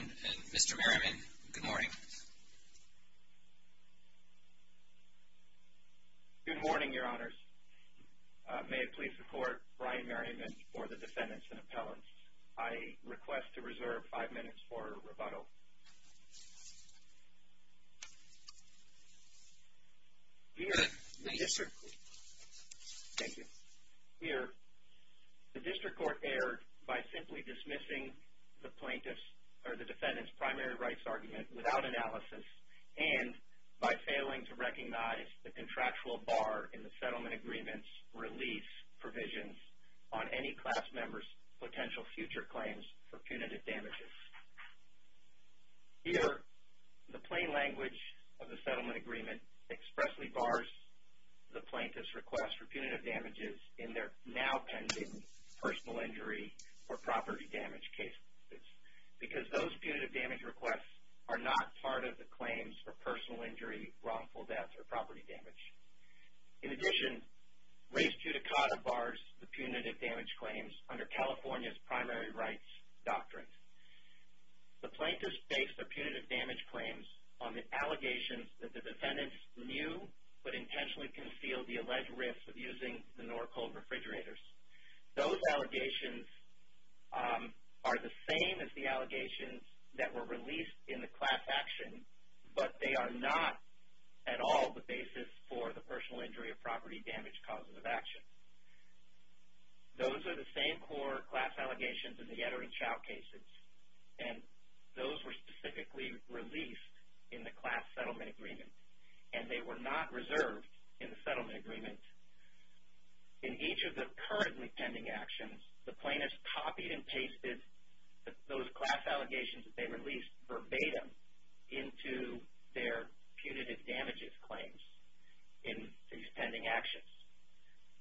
and Mr. Merriman. Good morning. Good morning, your honors. May it please the court, Brian I request to reserve five minutes for rebuttal. Here, the district court erred by simply dismissing the plaintiff's or the defendant's primary rights argument without analysis and by failing to recognize the contractual bar in the settlement agreement's release provisions on any class members' rights. potential future claims for punitive damages. Here, the plain language of the settlement agreement expressly bars the plaintiff's request for punitive damages in their now pending personal injury or property damage cases because those punitive damage requests are not part of the claims for personal injury, wrongful death, or property damage. In addition, race puticata bars the punitive damage claims under California's primary rights doctrine. The plaintiffs based their punitive damage claims on the allegations that the defendants knew but intentionally concealed the alleged risk of using the Norcold refrigerators. Those allegations are the same as the allegations that were released in the class action but they are not at all the basis for the personal injury or property damage causes of action. Those are the same core class allegations in the Etter and Chau cases and those were specifically released in the class settlement agreement and they were not reserved in the settlement agreement. In each of the currently pending actions, the plaintiffs copied and pasted those class allegations that they released verbatim into their punitive damages claims in these pending actions.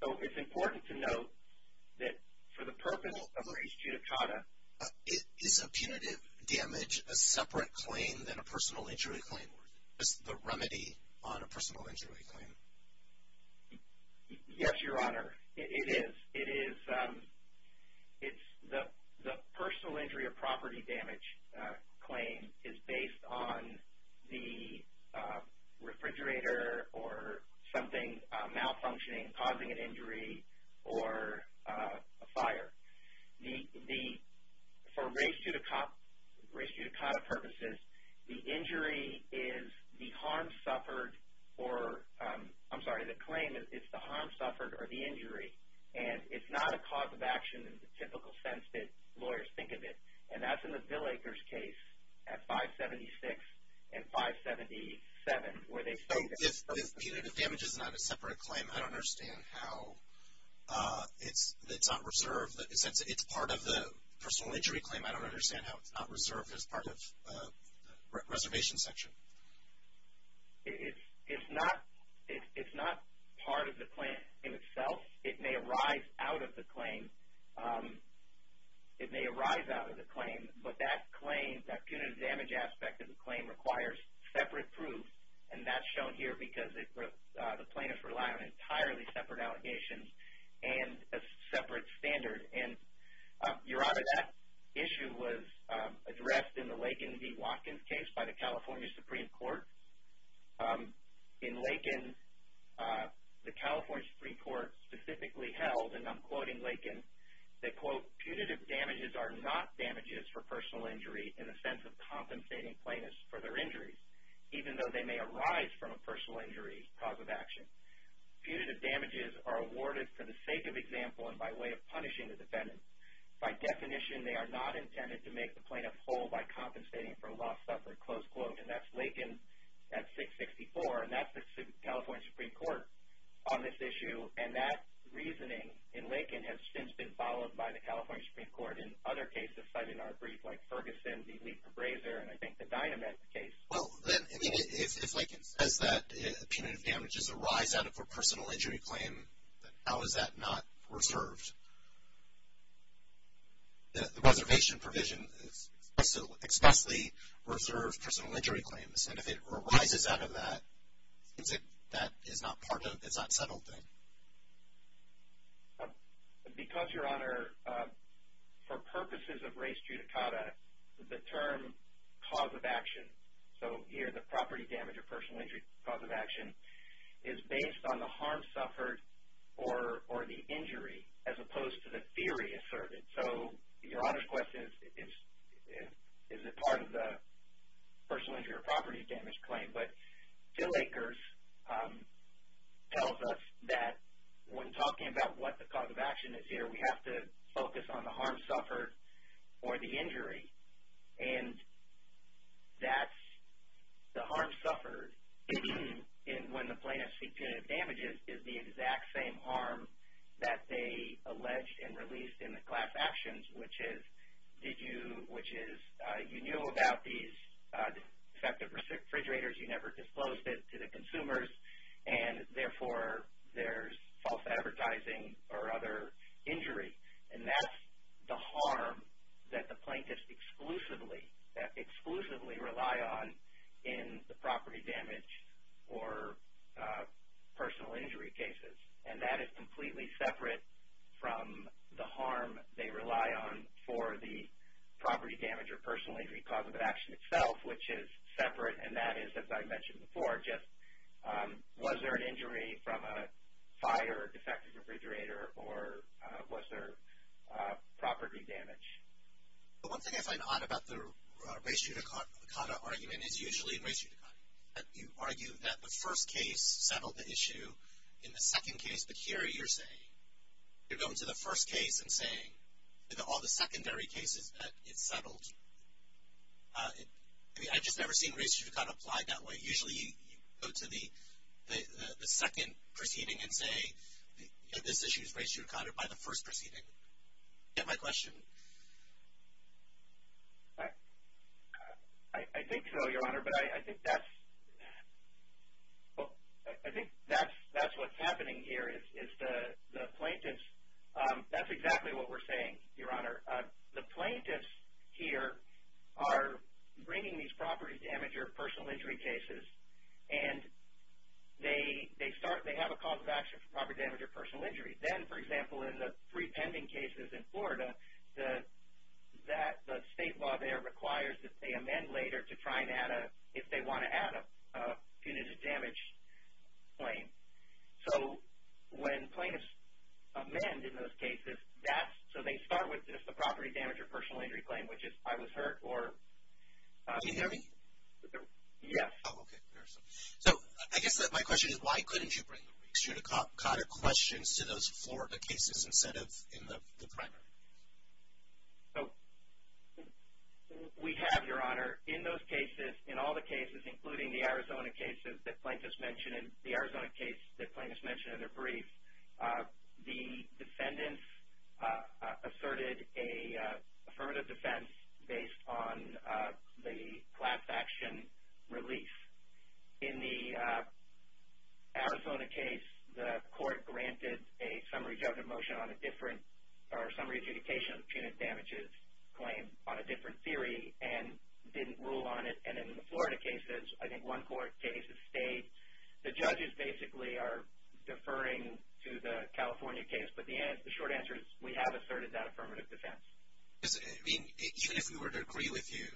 So, it's important to note that for the purpose of race puticata, it is a punitive damage, a separate claim than a personal injury claim. It's the remedy on a personal injury claim. Yes, your honor. It is. The personal injury or property damage claim is based on the refrigerator or something malfunctioning causing an injury or a fire. For race puticata purposes, the injury is the harm suffered or, I'm sorry, the claim is the harm suffered or the injury and it's not a cause of action in the typical sense that lawyers think of it and that's in the Bill Aker's case at 576 and 577 where they stated that. If punitive damage is not a separate claim, I don't understand how it's not reserved. In a sense, it's part of the personal injury claim. I don't understand how it's not reserved as part of the reservation section. It's not part of the claim in itself. It may arise out of the claim. It may arise out of the claim, but that claim, that punitive damage aspect of the claim requires separate proof and that's shown here because the plaintiffs rely on entirely separate allegations and a separate standard. Your honor, that issue was addressed in the Lakin v. Watkins case by the California Supreme Court. In Lakin, the California Supreme Court specifically held, and I'm quoting Lakin, they quote, Punitive damages are awarded for the sake of example and by way of punishing the defendant. By definition, they are not intended to make the plaintiff whole by compensating for loss suffered, close quote, and that's Lakin at 664 and that's the California Supreme Court on this issue and that reasoning in Lakin has since been followed by the California Supreme Court in other cases cited in our brief like Ferguson v. Leeper-Brazer and I think the Dynament case. Well, then, I mean, if Lakin says that punitive damage is a rise out of a personal injury claim, then how is that not reserved? The reservation provision is expressly reserved personal injury claims and if it arises out of that, that is not part of, it's not settled then. Because, your honor, for purposes of res judicata, the term cause of action, so here the property damage or personal injury cause of action is based on the harm suffered or the injury as opposed to the theory asserted. So, your honor's question is, is it part of the personal injury or property damage claim? But, Phil Akers tells us that when talking about what the cause of action is here, we have to focus on the harm suffered or the injury and that's the harm suffered when the plaintiff's punitive damages is the exact same harm that they alleged and released in the class action. Which is, you knew about these defective refrigerators, you never disclosed it to the consumers and therefore, there's false advertising or other injury and that's the harm that the plaintiffs exclusively rely on in the property damage or personal injury cases. And that is completely separate from the harm they rely on for the property damage or personal injury cause of action itself, which is separate and that is, as I mentioned before, just was there an injury from a fire or defective refrigerator or was there property damage? One thing I find odd about the res judicata argument is usually res judicata. You argue that the first case settled the issue, in the second case, but here you're saying, you're going to the first case and saying, all the secondary cases that it settled. I mean, I've just never seen res judicata applied that way. Usually, you go to the second proceeding and say, this issue is res judicata by the first proceeding. Do you get my question? I think so, Your Honor, but I think that's what's happening here is the plaintiffs, that's exactly what we're saying, Your Honor. The plaintiffs here are bringing these property damage or personal injury cases and they have a cause of action for property damage or personal injury. Then, for example, in the three pending cases in Florida, the state law there requires that they amend later to try and add a, if they want to add a punitive damage claim. So, when plaintiffs amend in those cases, that's, so they start with just the property damage or personal injury claim, which is, I was hurt or. Can you hear me? Yes. Oh, okay. So, I guess my question is, why couldn't you bring the res judicata questions to those Florida cases instead of in the primary? So, we have, Your Honor, in those cases, in all the cases, including the Arizona cases that plaintiffs mentioned, the Arizona case that plaintiffs mentioned in their brief, the defendants asserted a affirmative defense based on the class action release. In the Arizona case, the court granted a summary judgment motion on a different, or summary adjudication of punitive damages claim on a different theory and didn't rule on it. And in the Florida cases, I think one court case, the state, the judges basically are deferring to the California case, but the short answer is we have asserted that affirmative defense. I mean, even if we were to agree with you,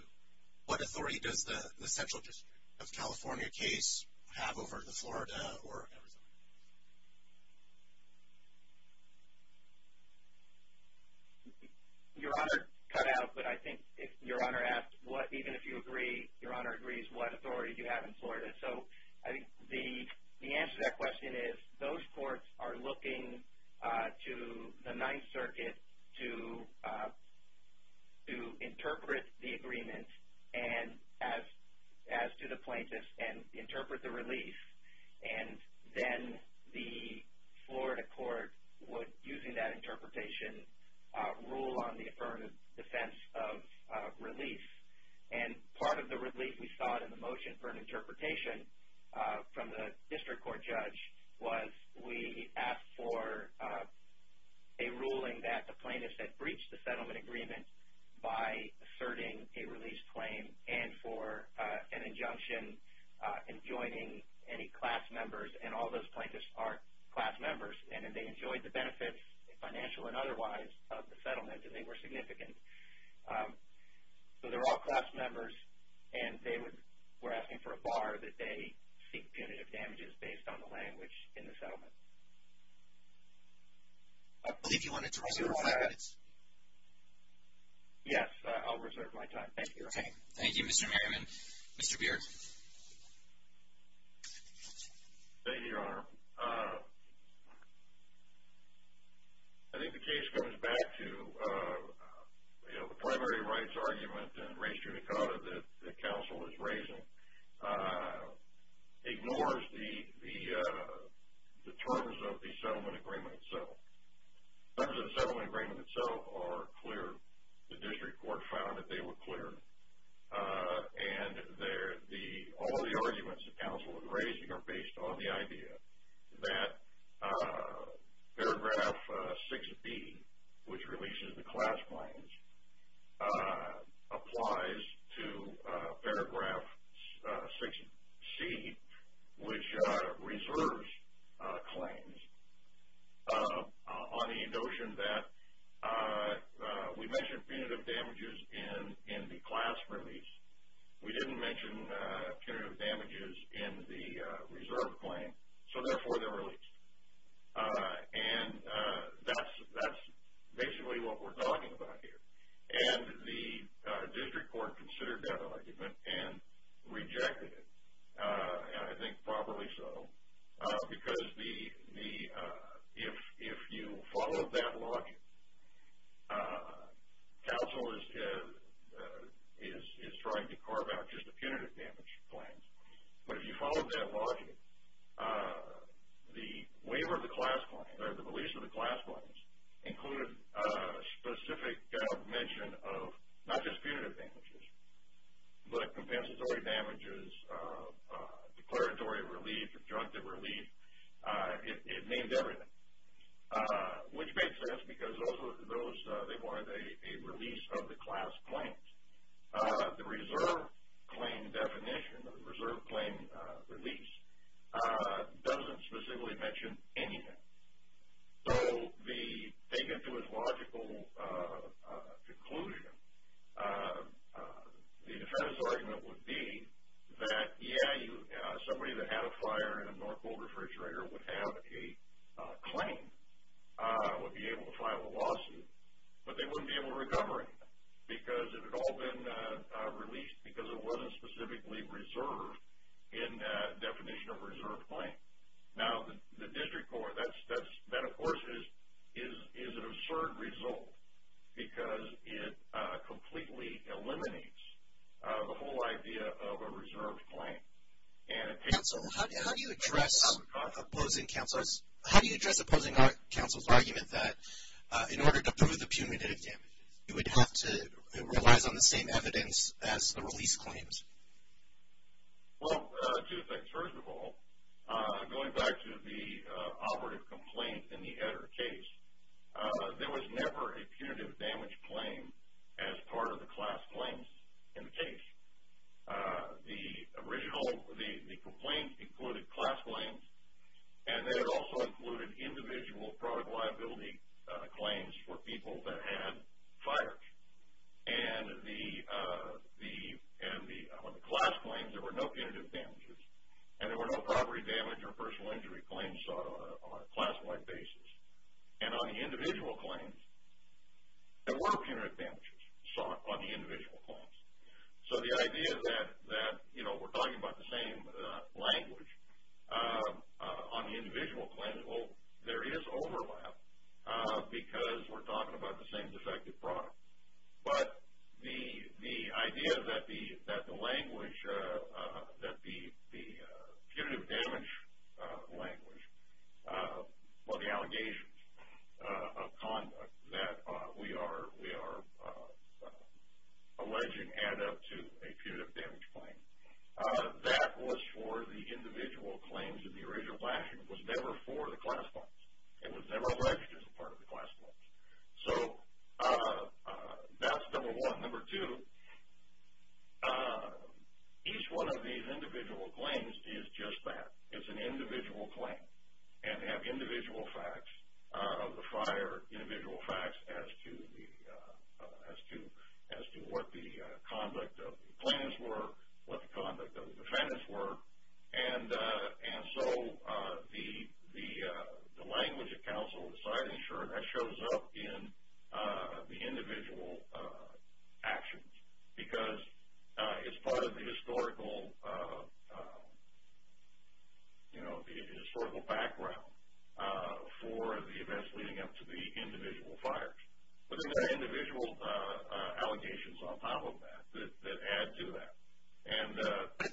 what authority does the central district of California case have over the Florida or Arizona case? Your Honor, cut out, but I think Your Honor asked, even if you agree, Your Honor agrees, what authority do you have in Florida? So, I think the answer to that question is those courts are looking to the Ninth Circuit to interpret the agreement as to the plaintiffs and interpret the release. And then the Florida court would, using that interpretation, rule on the affirmative defense of release. And part of the relief we saw in the motion for an interpretation from the district court judge was we asked for a ruling that the plaintiffs had breached the settlement agreement by asserting a release claim and for an injunction in joining any class members. And all those plaintiffs are class members, and they enjoyed the benefits, financial and otherwise, of the settlement, and they were significant. So, they're all class members, and they were asking for a bar that they seek punitive damages based on the language in the settlement. I believe you wanted to reserve five minutes. Yes, I'll reserve my time. Thank you, Your Honor. Thank you, Mr. Merriman. Mr. Beard. Thank you, Your Honor. I think the case comes back to the primary rights argument in race judicata that the counsel is raising ignores the terms of the settlement agreement itself. The terms of the settlement agreement itself are clear. The district court found that they were clear. And all the arguments the counsel was raising are based on the idea that paragraph 6B, which releases the class claims, applies to paragraph 6C, which reserves claims. On the notion that we mentioned punitive damages in the class release. We didn't mention punitive damages in the reserve claim. So, therefore, they're released. And that's basically what we're talking about here. And the district court considered that argument and rejected it. And I think probably so, because if you follow that logic, counsel is trying to carve out just the punitive damage claims. But if you follow that logic, the waiver of the class claims, or the release of the class claims, included specific mention of not just punitive damages, but compensatory damages, declaratory relief, objective relief. It named everything. Which made sense, because those, they wanted a release of the class claims. The reserve claim definition, the reserve claim release, doesn't specifically mention anything. So, they get to a logical conclusion. The defense argument would be that, yeah, somebody that had a fire in a North Pole refrigerator would have a claim, would be able to file a lawsuit. But they wouldn't be able to recover it. Because it had all been released because it wasn't specifically reserved in the definition of reserve claim. Now, the district court, that of course is an absurd result. Because it completely eliminates the whole idea of a reserve claim. Counsel, how do you address opposing counsel's argument that in order to prove the punitive damages, you would have to, it relies on the same evidence as the release claims? Well, two things. First of all, going back to the operative complaint in the Etter case, there was never a punitive damage claim as part of the class claims in the case. The original, the complaint included class claims. And then it also included individual product liability claims for people that had fire. And the, on the class claims, there were no punitive damages. And there were no property damage or personal injury claims sought on a class-wide basis. And on the individual claims, there were punitive damages sought on the individual claims. So the idea that, you know, we're talking about the same language on the individual claims, well, there is overlap because we're talking about the same defective products. But the idea that the language, that the punitive damage language, or the allegations of conduct that we are alleging add up to a punitive damage claim. That was for the individual claims in the original class, and it was never for the class claims. It was never alleged as a part of the class claims. So that's number one. Number two, each one of these individual claims is just that. It's an individual claim. And they have individual facts of the fire, individual facts as to the, as to what the conduct of the plaintiffs were, what the conduct of the defendants were. And so the language of counsel deciding, sure, that shows up in the individual actions. Because it's part of the historical, you know, the historical background for the events leading up to the individual fires. But there's individual allegations on top of that that add to that. And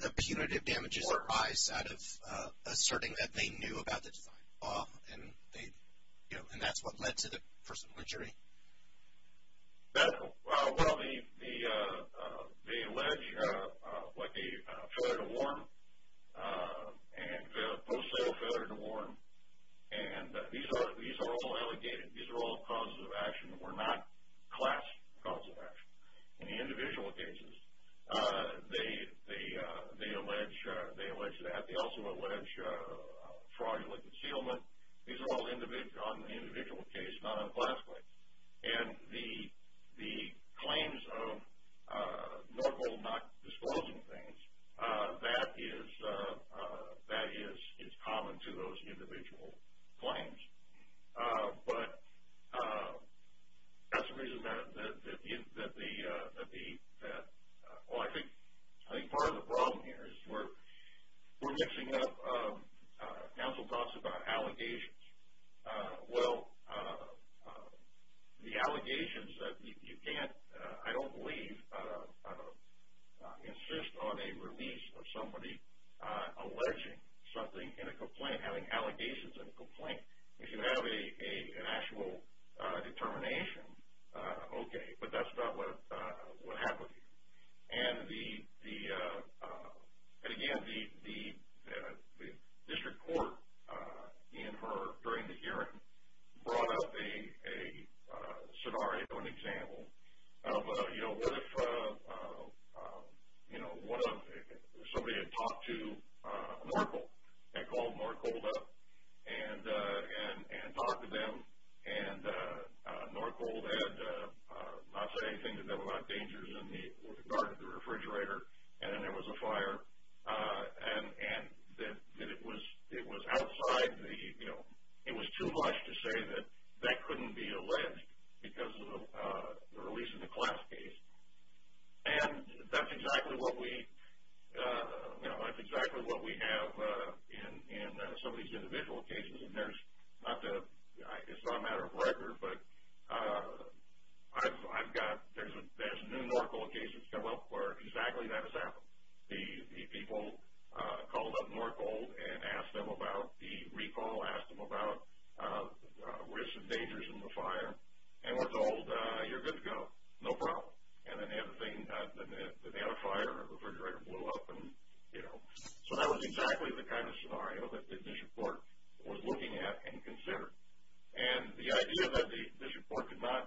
the punitive damages arise out of asserting that they knew about the design of the law, and they, you know, and that's what led to the person's injury. That, well, they allege like a failure to warn, and post-sale failure to warn. And these are all allegated. These are all causes of action that were not class causes of action. In the individual cases, they allege that. They also allege fraudulent concealment. These are all on the individual case, not on the class case. And the claims of Norco not disclosing things, that is common to those individual claims. But that's the reason that the, well, I think part of the problem here is we're mixing up counsel talks about allegations. Well, the allegations that you can't, I don't believe, insist on a release of somebody alleging something in a complaint, having allegations in a complaint. If you have an actual determination, okay, but that's not what happens. And again, the district court in her, during the hearing, brought up a scenario, an example of, you know, what if somebody had talked to Norco, had called Norco up, and talked to them, and Norco had not said anything to them about dangers with regard to the refrigerator, and then there was a fire, and that it was outside the, you know, it was too much to say that that couldn't be alleged because of the release of the class case. And that's exactly what we, you know, that's exactly what we have in some of these individual cases. And there's not the, it's not a matter of record, but I've got, there's new Norco cases come up where exactly that has happened. The people called up Norco and asked them about the recall, asked them about risks and dangers in the fire, and were told, you're good to go, no problem. And then they had a thing, they had a fire, and the refrigerator blew up, and, you know. So that was exactly the kind of scenario that the district court was looking at and considered. And the idea that the district court did not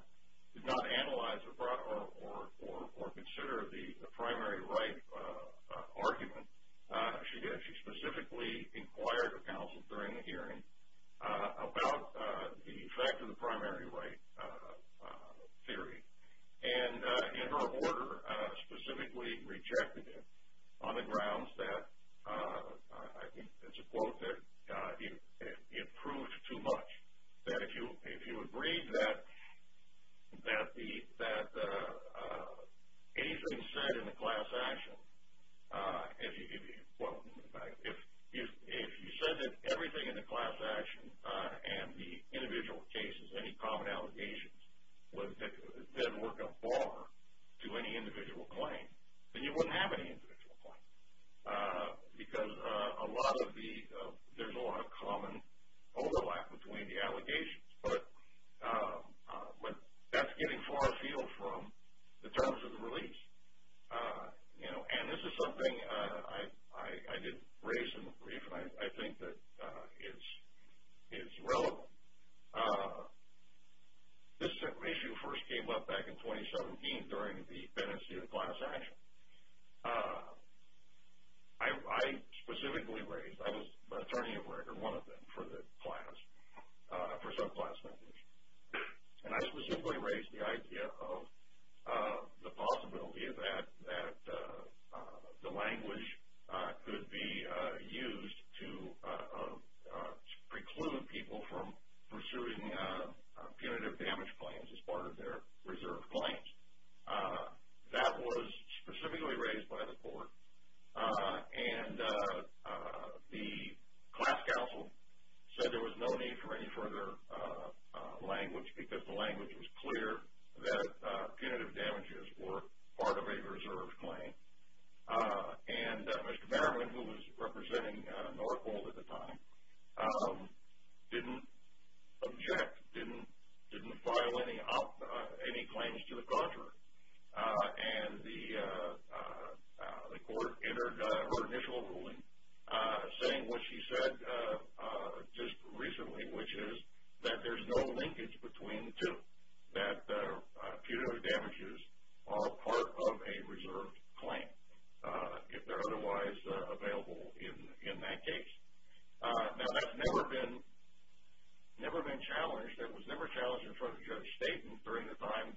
analyze or consider the primary right argument, she did, she specifically inquired the council during the hearing about the effect of the primary right theory. And in her order, specifically rejected it on the grounds that, I think it's a quote that it proves too much. That if you agree that anything said in the class action, if you said that everything in the class action and the individual cases, any common allegations, didn't work a bar to any individual claim, then you wouldn't have any individual claims. Because a lot of the, there's a lot of common overlap between the allegations. But that's getting far afield from the terms of the release. You know, and this is something I did raise in the brief, and I think that it's relevant. This issue first came up back in 2017 during the penancy of the class action. I specifically raised, I was an attorney of record, one of them, for the class, for subclassment issues. And I specifically raised the idea of the possibility that the language could be used to preclude people from pursuing punitive damage claims as part of their reserve claims. That was specifically raised by the court. And the class counsel said there was no need for any further language because the language was clear that punitive damages were part of a reserve claim. And Mr. Barrowin, who was representing Norfolk at the time, didn't object, didn't file any claims to the contrary. And the court entered her initial ruling saying what she said just recently, which is that there's no linkage between the two, that punitive damages are part of a reserve claim if they're otherwise available in that case. Now that's never been challenged. The language that was never challenged in front of Judge Staten during the time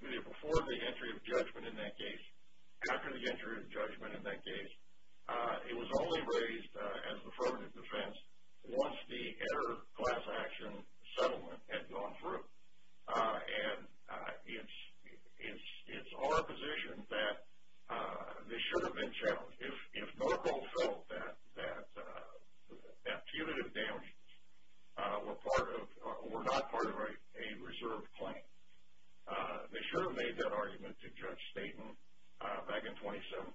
before the entry of judgment in that case, after the entry of judgment in that case, it was only raised as affirmative defense once the inter-class action settlement had gone through. And it's our position that this should have been challenged. If Norfolk felt that punitive damages were not part of a reserve claim, they should have made that argument to Judge Staten back in 2017.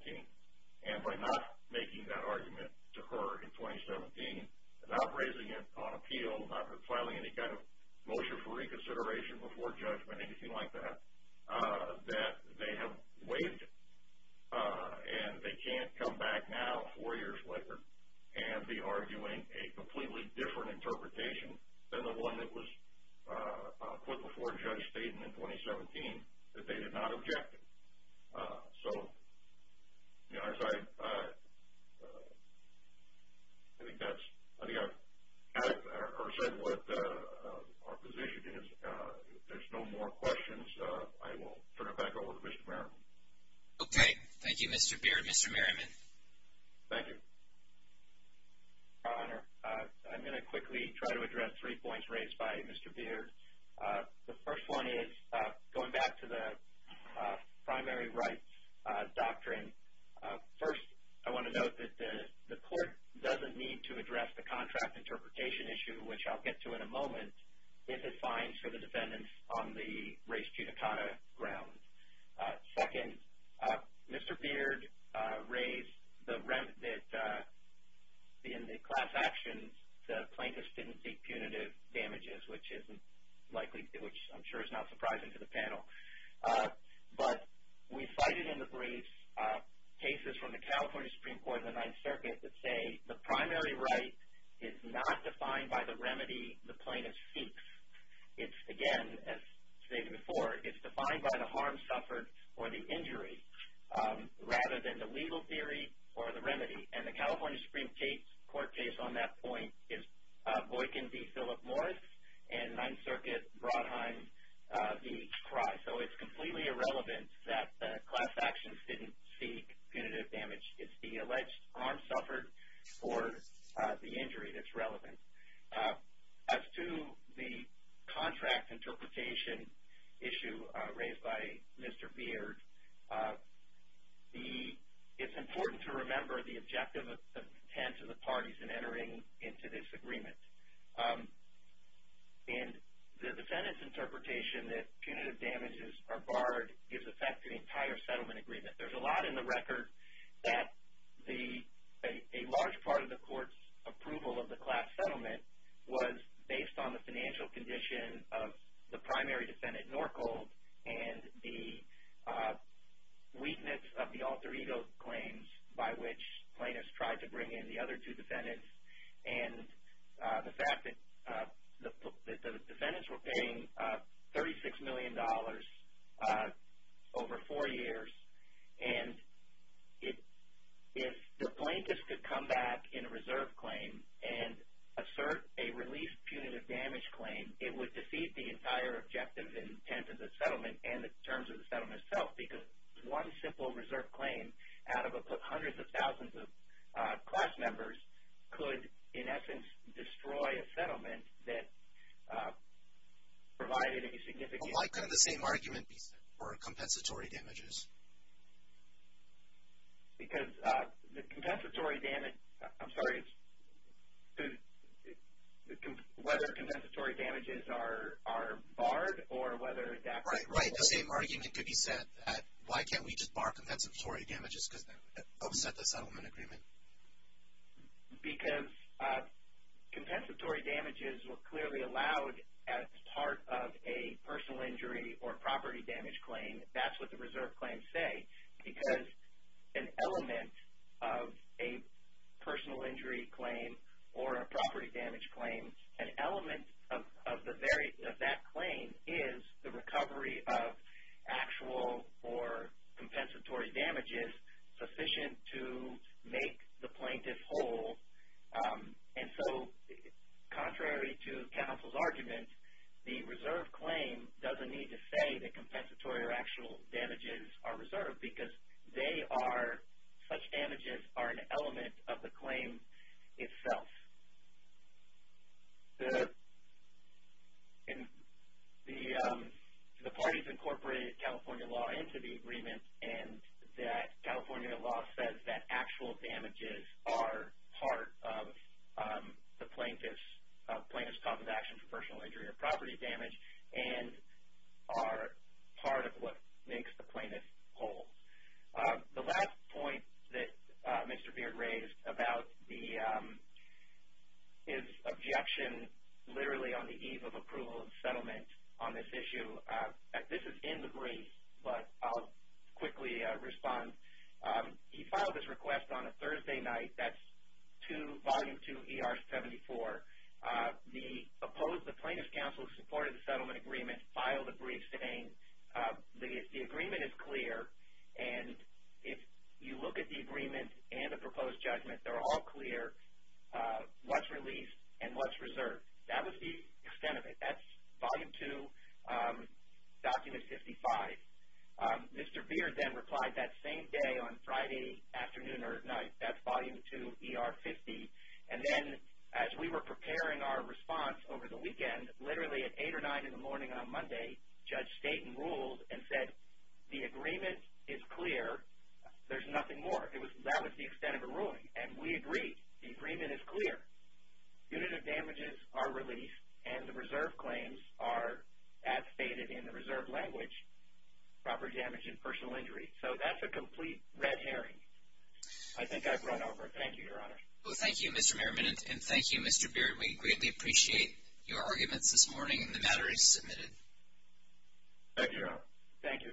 And by not making that argument to her in 2017, not raising it on appeal, not filing any kind of motion for reconsideration before judgment, anything like that, that they have waived it. And they can't come back now, four years later, and be arguing a completely different interpretation than the one that was put before Judge Staten in 2017 that they did not object to. So, as I said, what our position is, if there's no more questions, I will turn it back over to Mr. Merriman. Okay. Thank you, Mr. Beard. Mr. Merriman. Thank you. Your Honor, I'm going to quickly try to address three points raised by Mr. Beard. The first one is, going back to the primary rights doctrine, first I want to note that the court doesn't need to address the contract interpretation issue, which I'll get to in a moment, if it fines for the defendants on the race punitive grounds. Second, Mr. Beard raised that in the class actions, the plaintiffs didn't seek punitive damages, which I'm sure is not surprising to the panel. But we cited in the brief cases from the California Supreme Court and the Ninth Circuit that say the primary right is not defined by the remedy the plaintiff seeks. It's, again, as stated before, it's defined by the harm suffered or the injury rather than the legal theory or the remedy. And the California Supreme Court case on that point is Boykin v. Phillip Morris and Ninth Circuit, Brodheim v. Cry. So it's completely irrelevant that the class actions didn't seek punitive damage. It's the alleged harm suffered or the injury that's relevant. As to the contract interpretation issue raised by Mr. Beard, it's important to remember the objective of the intent of the parties in entering into this agreement. And the defendant's interpretation that punitive damages are barred gives effect to the entire settlement agreement. There's a lot in the record that a large part of the court's approval of the class settlement was based on the financial condition of the primary defendant, Norcold, and the weakness of the alter ego claims by which plaintiffs tried to bring in the other two defendants. And the fact that the defendants were paying $36 million over four years. And if the plaintiffs could come back in a reserve claim and assert a relief punitive damage claim, it would defeat the entire objective intent of the settlement and the terms of the settlement itself because one simple reserve claim out of hundreds of thousands of class members could, in essence, destroy a settlement that provided any significant... Why couldn't the same argument be set for compensatory damages? Because the compensatory damage... I'm sorry. Whether compensatory damages are barred or whether that... Right, right. The same argument could be set that why can't we just bar compensatory damages because that would upset the settlement agreement. Because compensatory damages were clearly allowed as part of a personal injury or property damage claim. That's what the reserve claims say. Because an element of a personal injury claim or a property damage claim, an element of that claim is the recovery of actual or compensatory damages sufficient to make the plaintiff whole. And so contrary to counsel's argument, the reserve claim doesn't need to say that compensatory or actual damages are reserved because they are... such damages are an element of the claim itself. The parties incorporated California law into the agreement and that California law says that actual damages are part of the plaintiff's compensation for personal injury or property damage and are part of what makes the plaintiff whole. The last point that Mr. Beard raised about his objection literally on the eve of approval of settlement on this issue. This is in the brief, but I'll quickly respond. He filed his request on a Thursday night. That's Volume 2, ER 74. The plaintiff's counsel who supported the settlement agreement filed a brief saying the agreement is clear and if you look at the agreement and the proposed judgment, they're all clear what's released and what's reserved. That was the extent of it. That's Volume 2, Document 55. Mr. Beard then replied that same day on Friday afternoon or at night. That's Volume 2, ER 50. Then as we were preparing our response over the weekend, literally at 8 or 9 in the morning on Monday, Judge Staten ruled and said the agreement is clear. There's nothing more. That was the extent of the ruling and we agree. The agreement is clear. Units of damages are released and the reserve claims are as stated in the reserve language, proper damage and personal injury. That's a complete red herring. I think I've run over. Thank you, Your Honor. Well, thank you, Mr. Merriman and thank you, Mr. Beard. We greatly appreciate your arguments this morning and the matter is submitted. Thank you, Your Honor. Thank you.